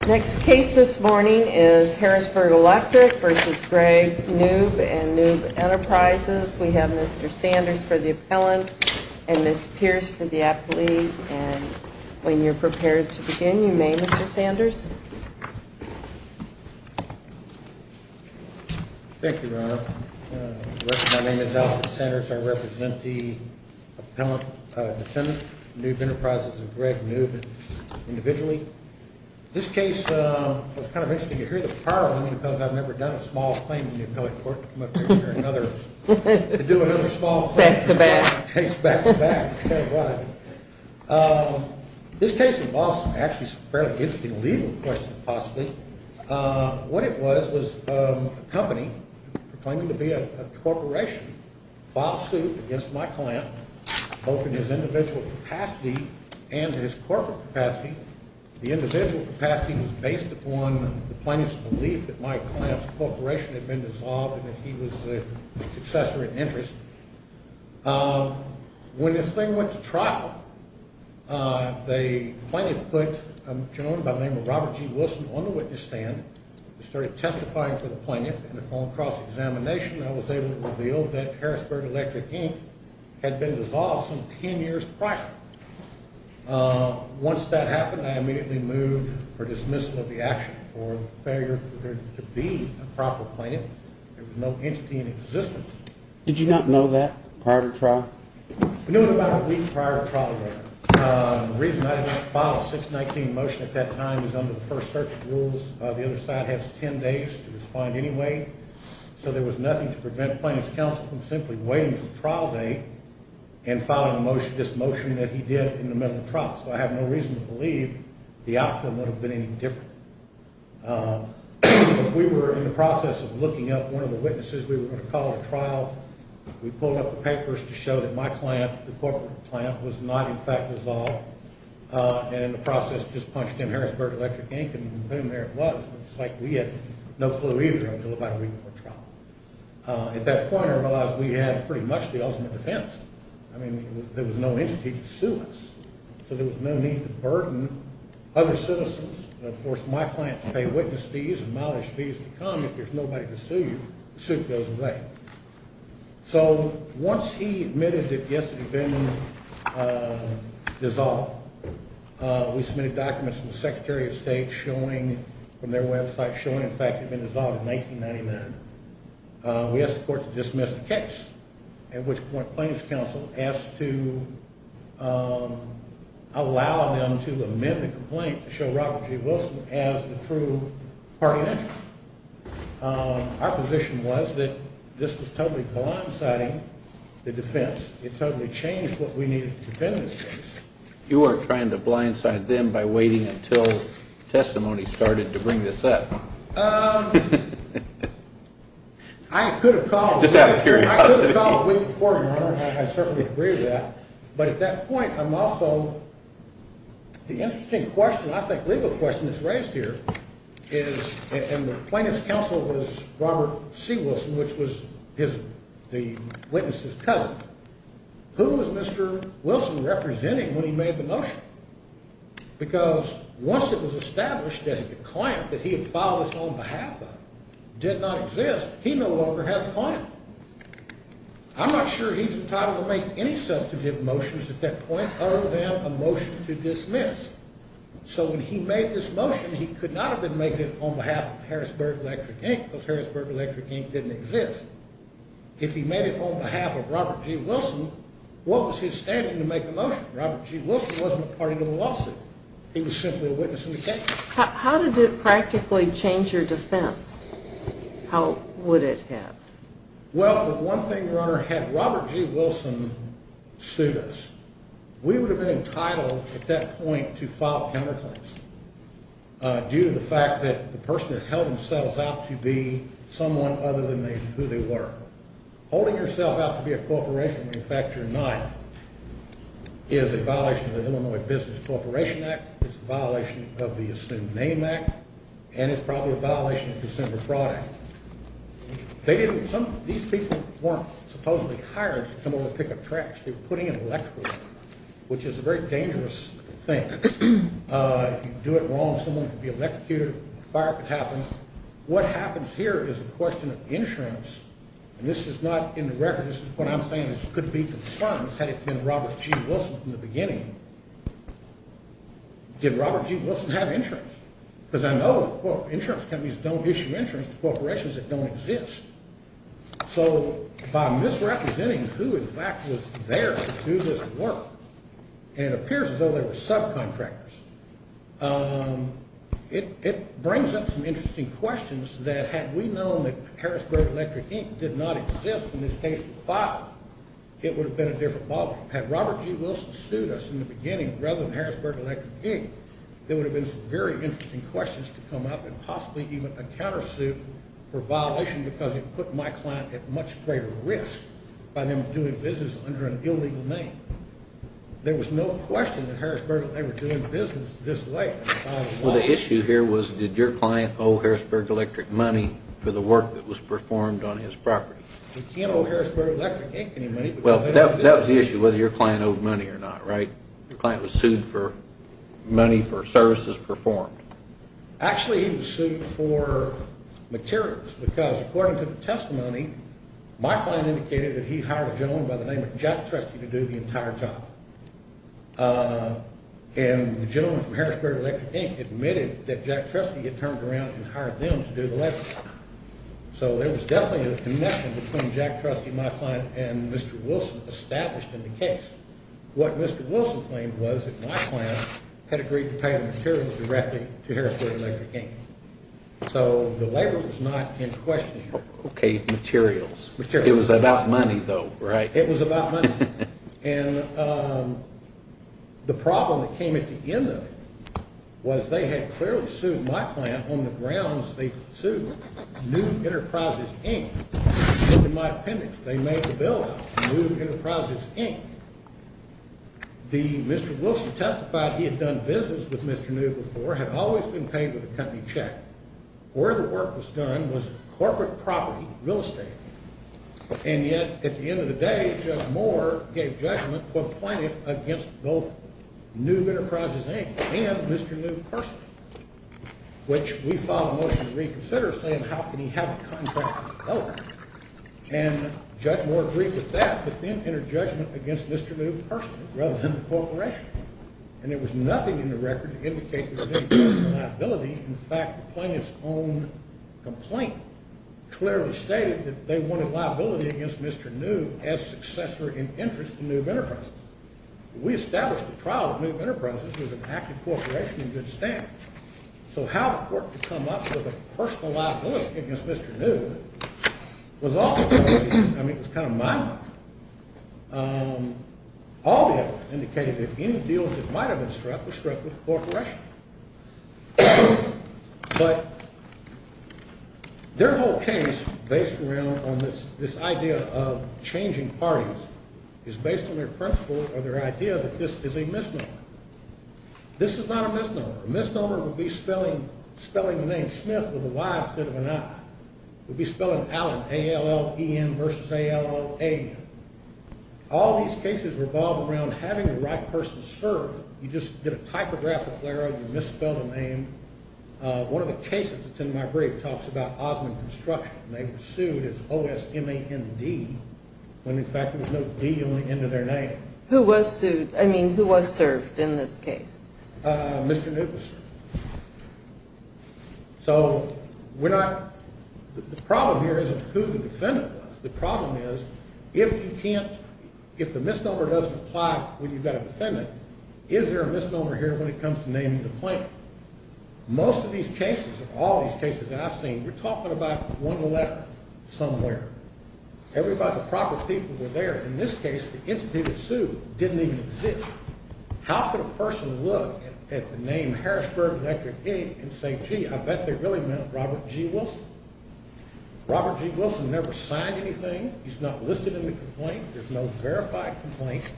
Next case this morning is Harrisburg Electric v. Greg Knoob and Knoob Enterprises. We have Mr. Sanders for the appellant and Ms. Pierce for the athlete. And when you're prepared to begin, you may, Mr. Sanders. Thank you, Your Honor. My name is Alfred Sanders. I represent the appellant, defendant, Knoob Enterprises and Greg Knoob individually. This case was kind of interesting to hear the power of them because I've never done a small claim in the appellate court. To do another small case back-to-back is kind of what I do. This case involves actually some fairly interesting legal questions, possibly. What it was, was a company proclaiming to be a corporation filed suit against my client, both in his individual capacity and his corporate capacity. The individual capacity was based upon the plaintiff's belief that my client's corporation had been dissolved and that he was a successor in interest. When this thing went to trial, the plaintiff put a gentleman by the name of Robert G. Wilson on the witness stand. We started testifying for the plaintiff and upon cross-examination, I was able to reveal that Harrisburg Electric Inc. had been dissolved some ten years prior. Once that happened, I immediately moved for dismissal of the action for the failure to be a proper plaintiff. There was no entity in existence. Did you not know that prior to trial? We knew it about a week prior to trial, Your Honor. The reason I didn't file a 619 motion at that time is under the first search rules. The other side has ten days to respond anyway. So there was nothing to prevent plaintiff's counsel from simply waiting for trial day and filing this motion that he did in the middle of trial. So I have no reason to believe the outcome would have been any different. We were in the process of looking up one of the witnesses we were going to call at trial. We pulled up the papers to show that my client, the corporate client, was not in fact dissolved and in the process just punched in Harrisburg Electric Inc. and boom, there it was. It's like we had no flu either until about a week before trial. At that point, I realized we had pretty much the ultimate defense. I mean, there was no entity to sue us. So there was no need to burden other citizens and force my client to pay witness fees and mileage fees to come if there's nobody to sue you. The suit goes away. So once he admitted that yes, it had been dissolved, we submitted documents from the Secretary of State from their website showing in fact it had been dissolved in 1999. We asked the court to dismiss the case, at which point plaintiff's counsel asked to allow them to amend the complaint to show Robert J. Wilson as the true party interest. Our position was that this was totally blindsiding the defense. It totally changed what we needed to defend this case. You were trying to blindside them by waiting until testimony started to bring this up. I could have called a week before, Your Honor, and I certainly agree with that. But at that And the plaintiff's counsel was Robert C. Wilson, which was the witness's cousin. Who was Mr. Wilson representing when he made the motion? Because once it was established that the client that he had filed this on behalf of did not exist, he no longer has a client. I'm not sure he's entitled to make any substantive motions at that point other than a motion to dismiss. So when he made this motion, he could not have been making it on behalf of Harrisburg Electric Inc. because Harrisburg Electric Inc. didn't exist. If he made it on behalf of Robert J. Wilson, what was his standing to make a motion? Robert J. Wilson wasn't a party to the lawsuit. He was simply a witness in the case. How did it practically change your defense? How would it have? Well, for one thing, Your Honor, had Robert J. Wilson sued us, we would have been entitled at that point to file counterclaims due to the fact that the person had held themselves out to be someone other than who they were. Holding yourself out to be a corporation when in fact you're not is a violation of the Illinois Business Corporation Act. It's a violation of the Assumed Name Act, and it's probably a violation of December Fraud Act. These people weren't supposedly hired to come over and pick up trash. They were putting it electrically, which is a very dangerous thing. If you do it wrong, someone could be electrocuted, a fire could happen. What happens here is a question of insurance, and this is not in the record. This is what I'm saying. This could be concerns had it been Robert J. Wilson from the beginning. Did Robert J. Wilson have insurance? Because I know, quote, insurance companies don't issue insurance to corporations that don't exist. So by misrepresenting who in fact was there to do this work, it appears as though they were subcontractors. It brings up some interesting questions that had we known that Harrisburg Electric, Inc. did not exist and this case was filed, it would have been a different ballgame. Had Robert J. Wilson sued us in the beginning rather than Harrisburg Electric, Inc., there would have been some very interesting questions to come up and possibly even a countersuit for violation because it put my client at much greater risk by them doing business under an illegal name. There was no question that Harrisburg and they were doing business this way. Well, the issue here was did your client owe Harrisburg Electric money for the work that was performed on his property? He can't owe Harrisburg Electric, Inc. any money. Well, that was the issue, whether your client owed money or not, right? Your client was sued for money for services performed. Actually, he was sued for materials because according to the testimony, my client indicated that he hired a gentleman by the name of Jack Trustee to do the entire job. And the gentleman from Harrisburg Electric, Inc. admitted that Jack Trustee had turned around and hired them to do the labor. So there was definitely a connection between Jack Trustee, my client, and Mr. Wilson established in the case. What Mr. Wilson claimed was that my client had agreed to pay the materials directly to Harrisburg Electric, Inc. So the labor was not in question here. Okay, materials. It was about money, though, right? It was about money. And the problem that came at the end of it was they had clearly sued my client on the grounds they sued New Enterprises, Inc. In my opinion, they made the bill out to New Enterprises, Inc. Mr. Wilson testified he had done business with Mr. New before and had always been paid with a company check. Where the work was done was that the court gave judgment to a plaintiff against both New Enterprises, Inc. and Mr. New personally, which we filed a motion to reconsider saying how can he have a contract with both? And Judge Moore agreed with that, but then entered judgment against Mr. New personally rather than the corporation. And there was nothing in the record to indicate there was any personal liability. In fact, the plaintiff's own complaint clearly stated that they wanted liability against Mr. New as successor in interest to New Enterprises. We established the trial of New Enterprises as an active corporation in good standing. So how the court could come up with a personal liability against Mr. New was also kind of mind-boggling. All the evidence indicated that any deals that might have been struck were struck with the corporation. But their whole case based around on this idea of changing parties is based on their principle or their idea that this is a misnomer. This is not a misnomer. A misnomer would be spelling the name Smith with a Y instead of an I. It would be spelling Allen, A-L-L-E-N versus A-L-L-A-N. All these cases revolve around having the right person serve. You just get a typographic error, you misspell the name. One of the cases that's in my brief talks about Osmond Construction. They were sued as O-S-M-A-N-D when in fact there was no D on the end of their name. Who was sued? I mean, who was served in this case? Mr. New. So we're not The problem here isn't who the defendant was. The problem is if the misnomer doesn't apply when you've got a defendant, is there a misnomer here when it comes to naming the plaintiff? Most of these cases, all these cases that I've seen, we're talking about one letter somewhere. Everybody, the proper people were there. In this case, the entity that sued didn't even exist. How could a person look at the name Harrisburg and say, gee, I bet they really meant Robert G. Wilson? Robert G. Wilson never signed anything. He's not listed in the complaint. There's no verified complaint.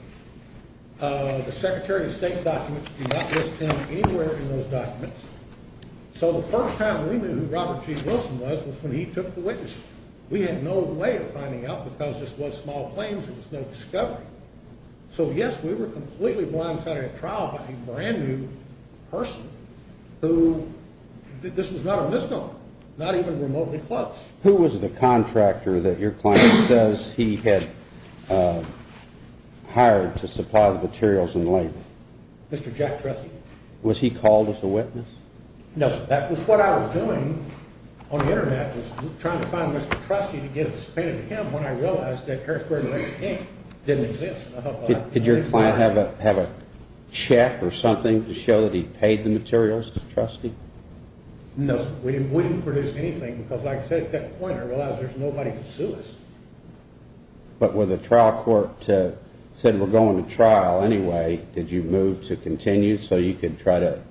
The Secretary of State documents do not list him anywhere in those documents. So the first time we knew who Robert G. Wilson was was when he took the witness. We had no way of finding out because this was small claims. There was no discovery. So yes, we were completely blindsided at trial by a brand new person who, this was not a misnomer, not even remotely close. Who was the contractor that your client says he had hired to supply the materials and labor? Mr. Jack Tressy. Was he called as a witness? No, that was what I was doing on the Internet was trying to find Mr. Tressy to get a spade of him when I realized that Harrisburg and Lincoln King didn't exist. Did your client have a check or something to show that he paid the materials to Tressy? No, we didn't produce anything because like I said, at that point I realized there's nobody to sue us. But when the trial court said we're going to trial anyway, did you move to continue so you could try to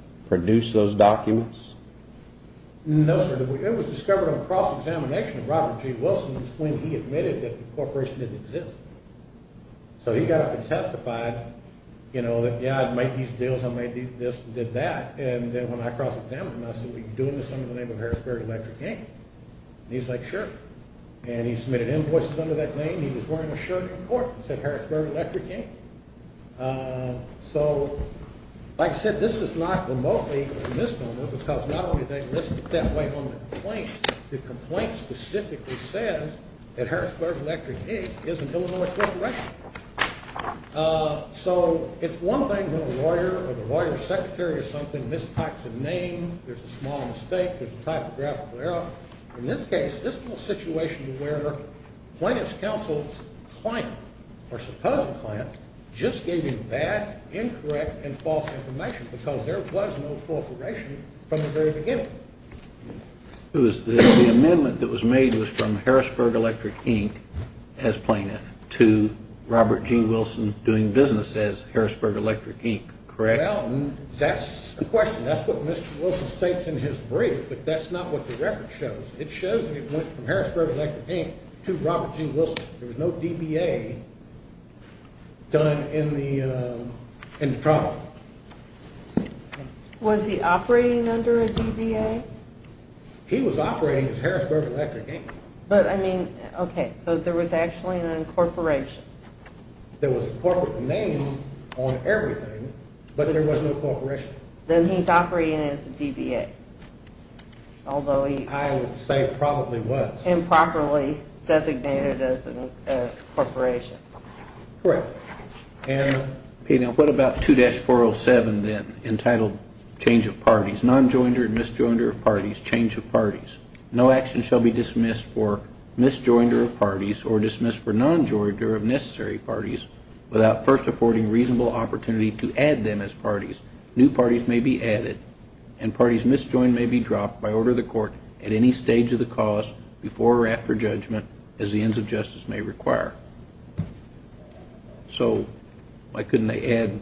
cross-examination of Robert G. Wilson was when he admitted that the corporation didn't exist. So he got up and testified, you know, that yeah, I'd make these deals, I might do this and did that. And then when I cross-examined him, I said, we can do this under the name of Harrisburg Electric King. And he's like, sure. And he submitted invoices under that name. He was wearing a shirt in court. It said Harrisburg Electric King. So like I said, this is not remotely a misnomer because not only did they list it that way on the complaint, the complaint specifically says that Harrisburg Electric King is a Illinois corporation. So it's one thing when a lawyer or the lawyer's secretary or something mistypes a name, there's a small mistake, there's a typographical error. In this case, this is a situation where plaintiff's counsel's client or supposed client just gave him bad, incorrect and false information because there was no corporation from the very beginning. It was the amendment that was made was from Harrisburg Electric King as plaintiff to Robert G. Wilson doing business as Harrisburg Electric King, correct? That's a question. That's what Mr. Wilson states in his brief, but that's not what the record shows. It shows that it went from done in the trial. Was he operating under a DBA? He was operating as Harrisburg Electric King. But I mean, okay, so there was actually an incorporation. There was a corporate name on everything, but there was no corporation. Then he's operating as a DBA. I would say probably was. Improperly designated as an incorporation. And what about 2-407 then, entitled change of parties, nonjoinder and misjoinder of parties, change of parties. No action shall be dismissed for misjoinder of parties or dismissed for nonjoinder of necessary parties without first affording reasonable opportunity to add them as parties. New parties may be added and parties misjoined may be dropped by order of the court at any stage of the cause before or after judgment as the ends of justice may require. So why couldn't they add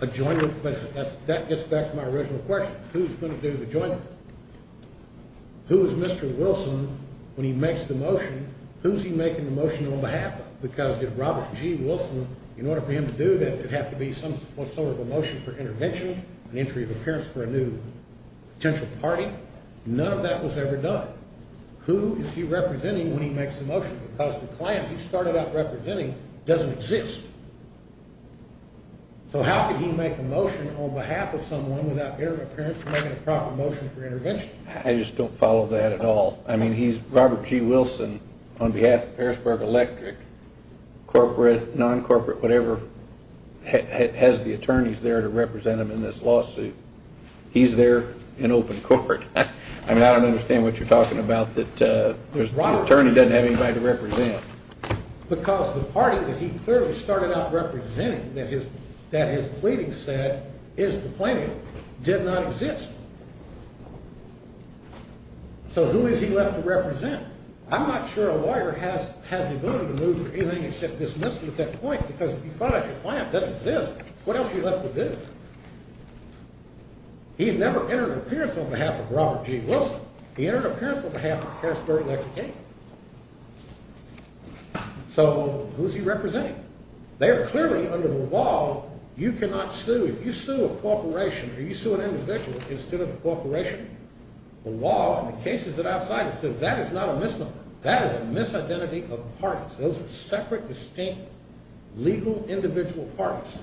a joinder? That gets back to my original question. Who's going to do the joinder? Who is Mr. Wilson when he makes the motion? Who's he making the motion on behalf of? Because if Robert G. Wilson, in order for him to do this, it'd have to be some sort of a motion for intervention, an entry of appearance for a new potential party. None of that was ever done. Who is he representing when he makes the motion? Because the client he started out representing doesn't exist. So how could he make a motion on behalf of someone without their appearance to make a proper motion for intervention? I just don't follow that at all. I mean, Robert G. Wilson, on behalf of Harrisburg Electric, corporate, non-corporate, whatever, has the attorneys there to represent him in this lawsuit. He's there in open court. I mean, I don't understand what you're talking about that the attorney doesn't have anybody to represent. Because the party that he clearly started out representing that his plaintiff did not exist. So who is he left to represent? I'm not sure a lawyer has the ability to move for anything except dismissal at that point, because if you find out your client doesn't exist, what else are you left to do? He never entered an appearance on behalf of Robert G. Wilson. He entered an appearance on behalf of Harrisburg Electric. So who's he representing? They're clearly under the law. You cannot sue. If you sue a corporation or you sue an individual instead of a corporation, the law and the cases that I've cited say that is not a misnomer. That is a misidentity of parties. Those are separate, distinct legal individual parties.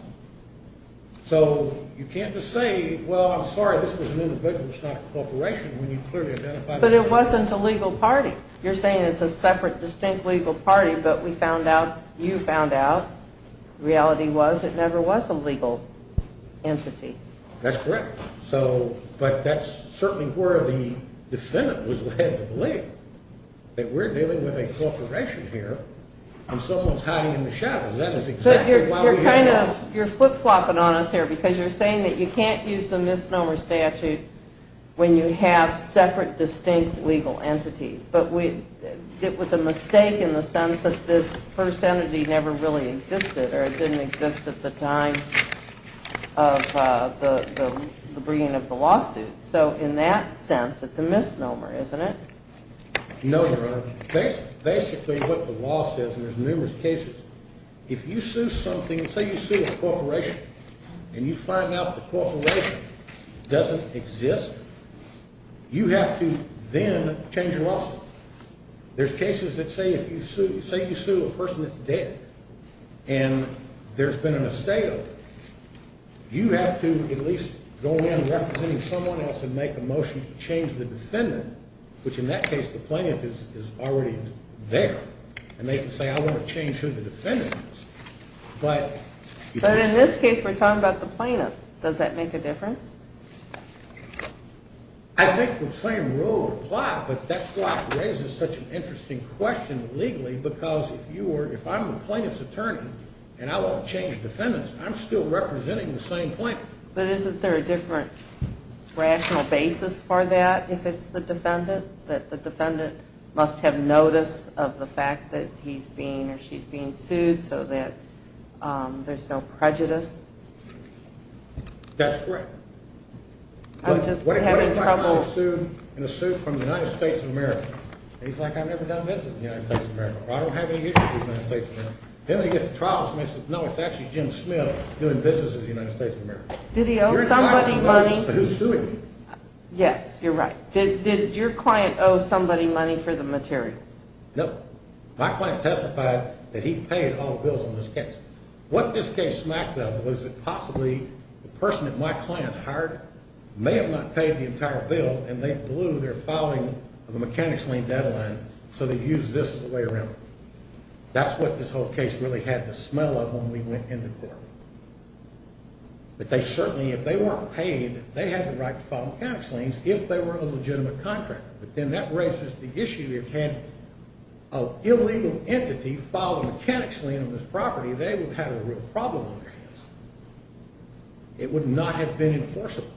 So you can't just say, well, I'm sorry, this is an individual, it's not a corporation, when you clearly identify the parties. But it wasn't a legal party. You're saying it's a separate, distinct legal party, but we found out, you found out, reality was it never was a legal entity. That's correct. But that's certainly where the defendant was led to believe, that we're dealing with a corporation here and someone's hiding in the shadows. That is exactly why we're here now. You're flip-flopping on us here because you're saying that you can't use the misnomer statute when you have separate, distinct legal entities. But with a mistake in the sense that this first entity never really existed or didn't exist at the time of the bringing of the lawsuit. So in that sense, it's a misnomer, isn't it? No, Your Honor. Basically what the law says, and there's numerous cases, if you sue something, say you sue a corporation and you find out the corporation doesn't exist, you have to then change your lawsuit. There's cases that say if you sue, say you sue a person that's dead and there's been an estate, you have to at least go in representing someone else and make a motion to change the defendant, which in that case the plaintiff is already there, and they can say I want to change who the defendant is. But in this case we're talking about the plaintiff. Does that make a difference? I think the same rule applies, but that's why it raises such an interesting question legally, because if I'm the plaintiff's attorney and I want to go in representing the same plaintiff. But isn't there a different rational basis for that if it's the defendant? That the defendant must have notice of the fact that he's being or she's being sued so that there's no prejudice? That's correct. I'm just having trouble. What if I find a suit from the United States of America and he's like I've never done business in the United States of America or I don't have any issues with the United States of America. Then they get to trial and they say no it's actually Jim Smith doing business in the United States of America. You're talking about the person who's suing you. Yes, you're right. Did your client owe somebody money for the materials? No. My client testified that he paid all the bills in this case. What this case smacked of was that possibly the person that my client hired may have not paid the entire bill and they blew their filing of the mechanics lien deadline so they used this as a way around it. That's what this whole case really had the smell of when we went into court. But they certainly, if they weren't paid, they had the right to file mechanics liens if they were a legitimate contractor. But then that raises the issue. If you had an illegal entity file a mechanics lien on this property, they would have had a real problem on their hands. It would not have been enforceable.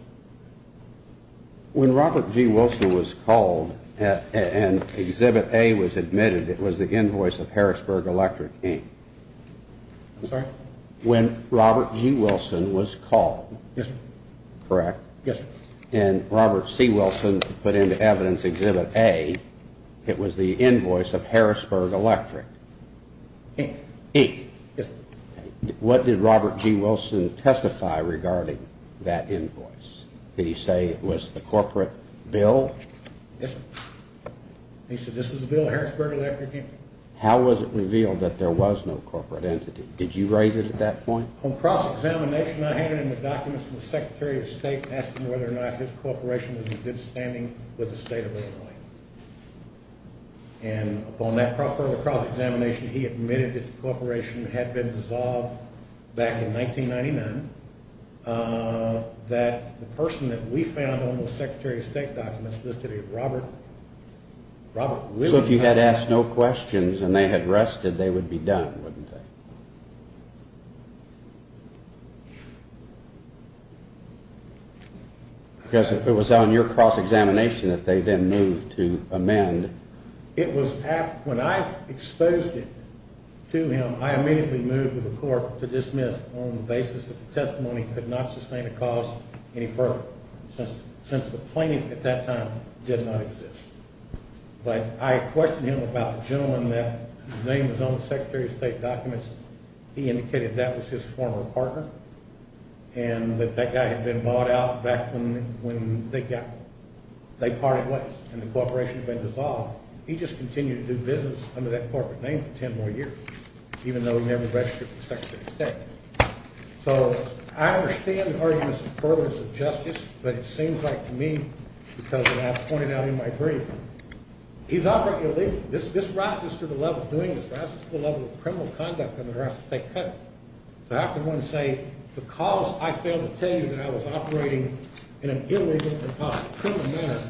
When Robert G. Wilson was called and Exhibit A was admitted, it was the invoice of Harrisburg Electric, Inc. I'm sorry? When Robert G. Wilson was called. Yes, sir. Correct? Yes, sir. And Robert C. Wilson put into evidence Exhibit A, it was the invoice of Harrisburg Electric. Inc. Inc. Yes, sir. What did Robert G. Wilson testify regarding that invoice? Did he say it was the corporate bill? Yes, sir. He said this was the bill of Harrisburg Electric Inc. How was it revealed that there was no corporate entity? Did you raise it at that point? On cross-examination, I handed him the documents from the Secretary of State and asked him whether or not his corporation was a state of Illinois. And upon that further cross-examination, he admitted that the corporation had been dissolved back in 1999, that the person that we found on the Secretary of State documents listed as Robert Wilson. So if you had asked no questions and they had rested, they would be done, wouldn't they? Because it was on your cross-examination that they then moved to amend. When I exposed it to him, I immediately moved with the court to dismiss on the basis that the testimony could not sustain a cause any further since the plaintiff at that time did not exist. But I questioned him about the gentleman that his name was on the Secretary of State documents. He indicated that was his former partner and that that guy had been bought out back when they parted ways and the corporation had been dissolved. He just continued to do business under that corporate name for ten more years, even though he never registered for the Secretary of State. So I understand the arguments in favor of justice, but it seems like to me, because as I've pointed out in my brief, he's operating illegally. This rises to the level of doing this, rises to the level of criminal conduct and the rest, they cut it. So I have to go and say, because I failed to tell you that I was operating in an illegal and possible criminal manner,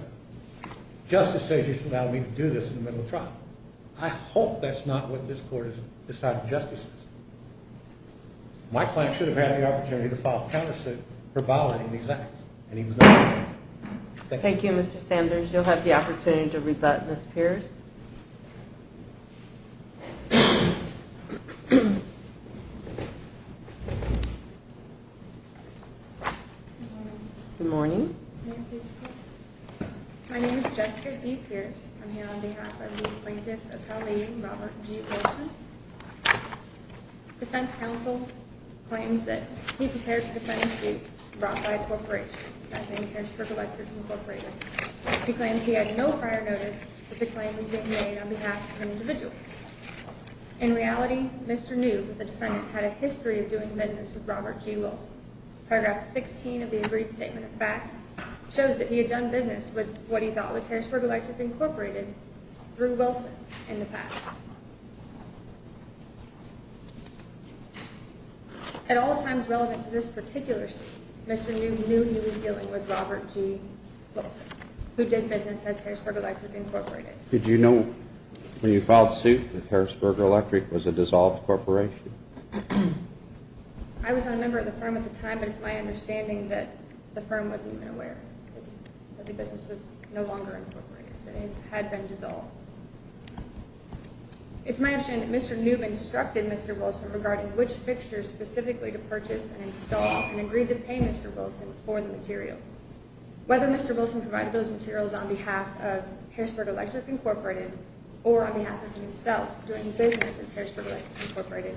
justice says you should allow me to do this in the middle of trial. I hope that's not what this court has decided justice is. My client should have had the opportunity to file a counter suit for violating these acts, and he was not. Thank you, Mr. Sanders. You'll have the opportunity to rebut Ms. Pierce. Good morning. My name is Jessica D. Pierce. I'm here on behalf of the defense counsel claims that he prepared to defend the corporation. He claims he had no prior notice that the claim was being made on behalf of an individual. In reality, Mr. knew that the defendant had a history of doing business with Robert G. Wilson. Paragraph 16 of the agreed statement of facts shows that he had done business with what he thought was Harrisburg Electric Incorporated through Wilson in the past. At all times relevant to this particular suit, Mr. knew he was dealing with Robert G. Wilson, who did business as Harrisburg Electric Incorporated. Did you know when you filed suit that Harrisburg Electric was a dissolved corporation? I was not a member of the firm at the time, but it's my understanding that the firm wasn't even aware that the business was no longer incorporated, that it had been dissolved. It's my understanding that Mr. Newman instructed Mr. Wilson regarding which fixtures specifically to purchase and install and agreed to pay Mr. Wilson for the materials. Whether Mr. Wilson provided those materials on behalf of Harrisburg Electric Incorporated or on behalf of himself doing business as Harrisburg Electric Incorporated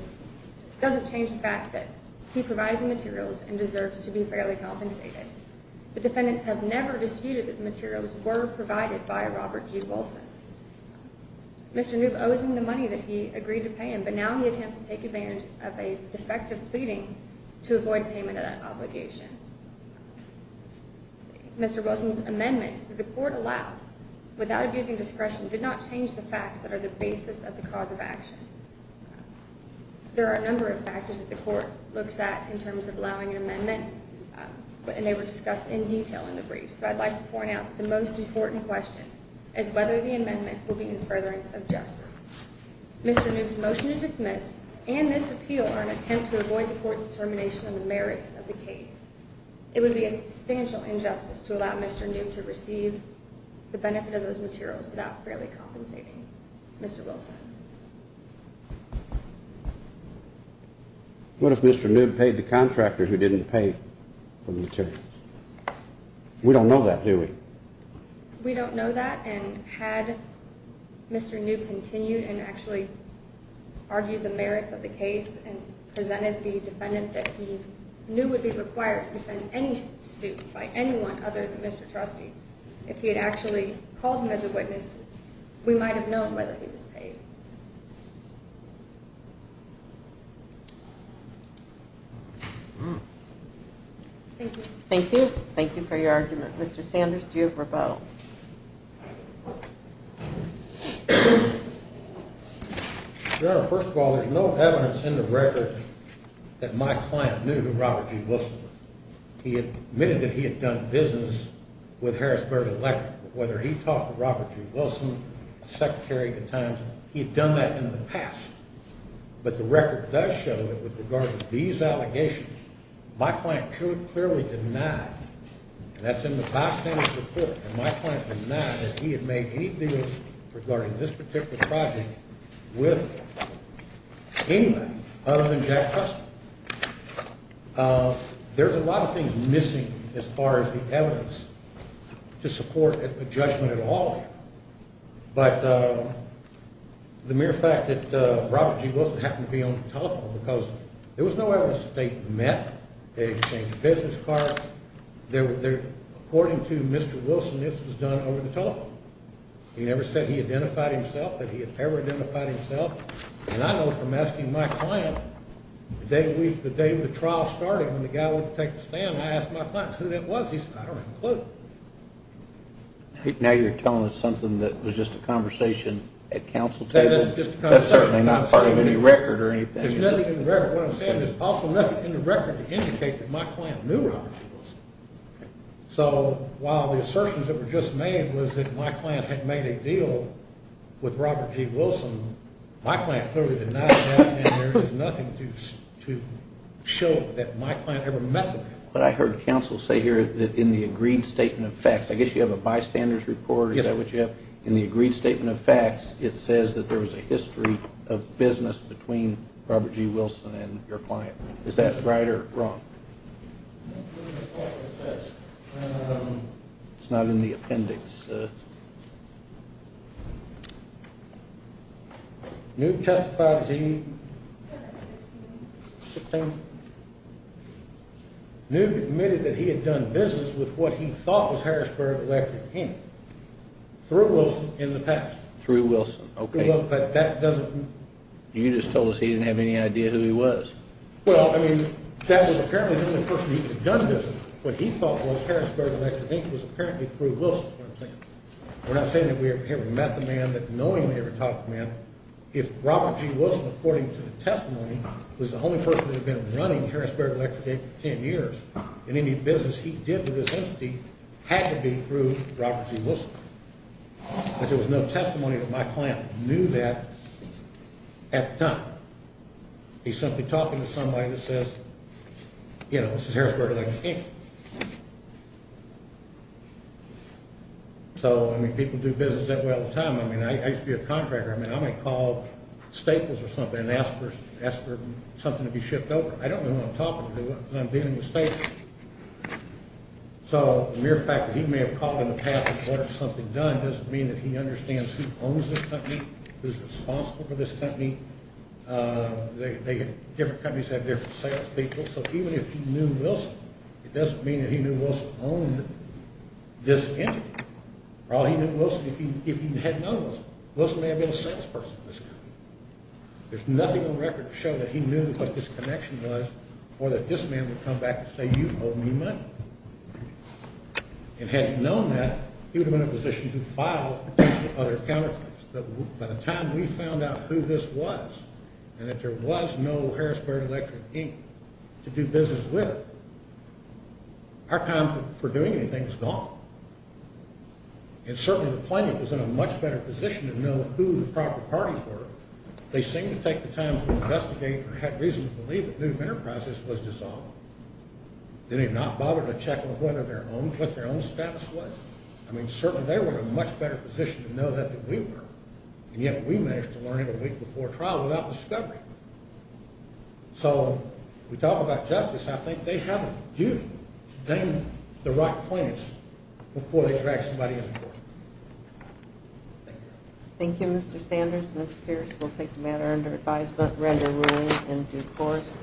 doesn't change the fact that he provided the materials and deserves to be fairly compensated. The defendants have never disputed that the materials were provided by Robert G. Wilson. Mr. Newman owes him the money that he agreed to pay him, but now he attempts to take advantage of a defective pleading to avoid payment of that obligation. Mr. Wilson's amendment that the court allowed without abusing discretion did not change the facts that are the basis of the cause of action. There are a number of factors that the court looks at in terms of allowing an amendment, and they were discussed in detail in the briefs, but I'd like to point out that the most important question is whether the amendment will be in furtherance of justice. Mr. Newman's motion to dismiss and this appeal are an attempt to avoid the court's determination of the merits of the case. It would be a substantial injustice to allow Mr. Newman to receive the benefit of those materials without fairly compensating Mr. Wilson. What if Mr. Newman paid the contractor who didn't pay for the materials? We don't know that, do we? We don't know that, and had Mr. Newman continued and actually argued the merits of the case and presented the defendant that he knew would be required to defend any suit by anyone other than Mr. Trustee, if he had actually called him as a witness, we might have known whether he was paid. Thank you. Thank you. Thank you for your argument. Mr. Sanders, do you have a rebuttal? Your Honor, first of all, there's no evidence in the record that my client knew who Robert G. Wilson was. He admitted that he had done business with Harrisburg Electric, whether he talked to Robert G. Wilson, the Secretary of the Times, he had done that in the past, but the record does show that with regard to these allegations, my client clearly denied, and that's in the bystander's report, and my client denied that he had made any deals regarding this particular project with anyone other than Jack Trustee. There's a lot of things missing as far as the evidence to support a judgment at all, but the mere fact that Robert G. met, they exchanged business cards, according to Mr. Wilson, this was done over the telephone. He never said he identified himself, that he had ever identified himself, and I know from asking my client, the day the trial started, when the guy went to take the stand, I asked my client who that was. He said, I don't have a clue. Now you're telling us something that was just a conversation at council tables? That's certainly not part of any record or anything. There's nothing in the record to indicate that my client knew Robert G. Wilson. So while the assertions that were just made was that my client had made a deal with Robert G. Wilson, my client clearly denied that, and there is nothing to show that my client ever met with him. But I heard council say here that in the agreed statement of facts, it says that there was a history of business between Robert G. Wilson and your client. Is that right or wrong? It's not in the appendix. Newt justified as he Newt admitted that he had done business with what he through Wilson in the past. You just told us he didn't have any idea who he was. What he thought was Harrisburg Electric Inc. was apparently through Wilson. We're not saying that we ever met the man, but knowing we ever talked to the man, if Robert G. Wilson, according to the testimony, was the only person who had been running Harrisburg Electric Inc. for 10 years, and any business he did with this entity had to be through Robert G. Wilson. But there was no testimony that my client knew that at the time. He's simply talking to somebody that says, you know, this is Harrisburg Electric Inc. So, I mean, people do business that way all the time. I mean, I used to be a contractor. I mean, I might call staples or something and ask for something to be shipped over. I don't know who I'm talking to because I'm dealing with staples. So the mere fact that he may have called in the past and ordered something done doesn't mean that he understands who owns this company, who's responsible for this company. Different companies have different sales people. So even if he knew Wilson, it doesn't mean that he knew Wilson owned this entity. Well, he knew Wilson if he had known Wilson. Wilson may have been a salesperson for this company. There's nothing on record to show that he knew what this connection was or that this man would come back and say, you owe me money. And had he known that, he would have been in a position to file other counterfeits. By the time we found out who this was and that there was no Harrisburg Electric Inc. to do business with, our time for doing anything was gone. And certainly the plaintiff was in a much better position to know who the proper parties were. They seemed to take the time to investigate or had reason to believe that Nuke Enterprises was dissolved. They did not bother to check what their own status was. I mean, certainly they were in a much better position to know that than we were. And yet we managed to learn it a week before trial without discovery. So when we talk about justice, I think they have a duty to name the right plaintiffs before they drag somebody into court. Thank you. Thank you, Mr. Sanders. Ms. Pierce will take the matter under advisement, render ruling in due course.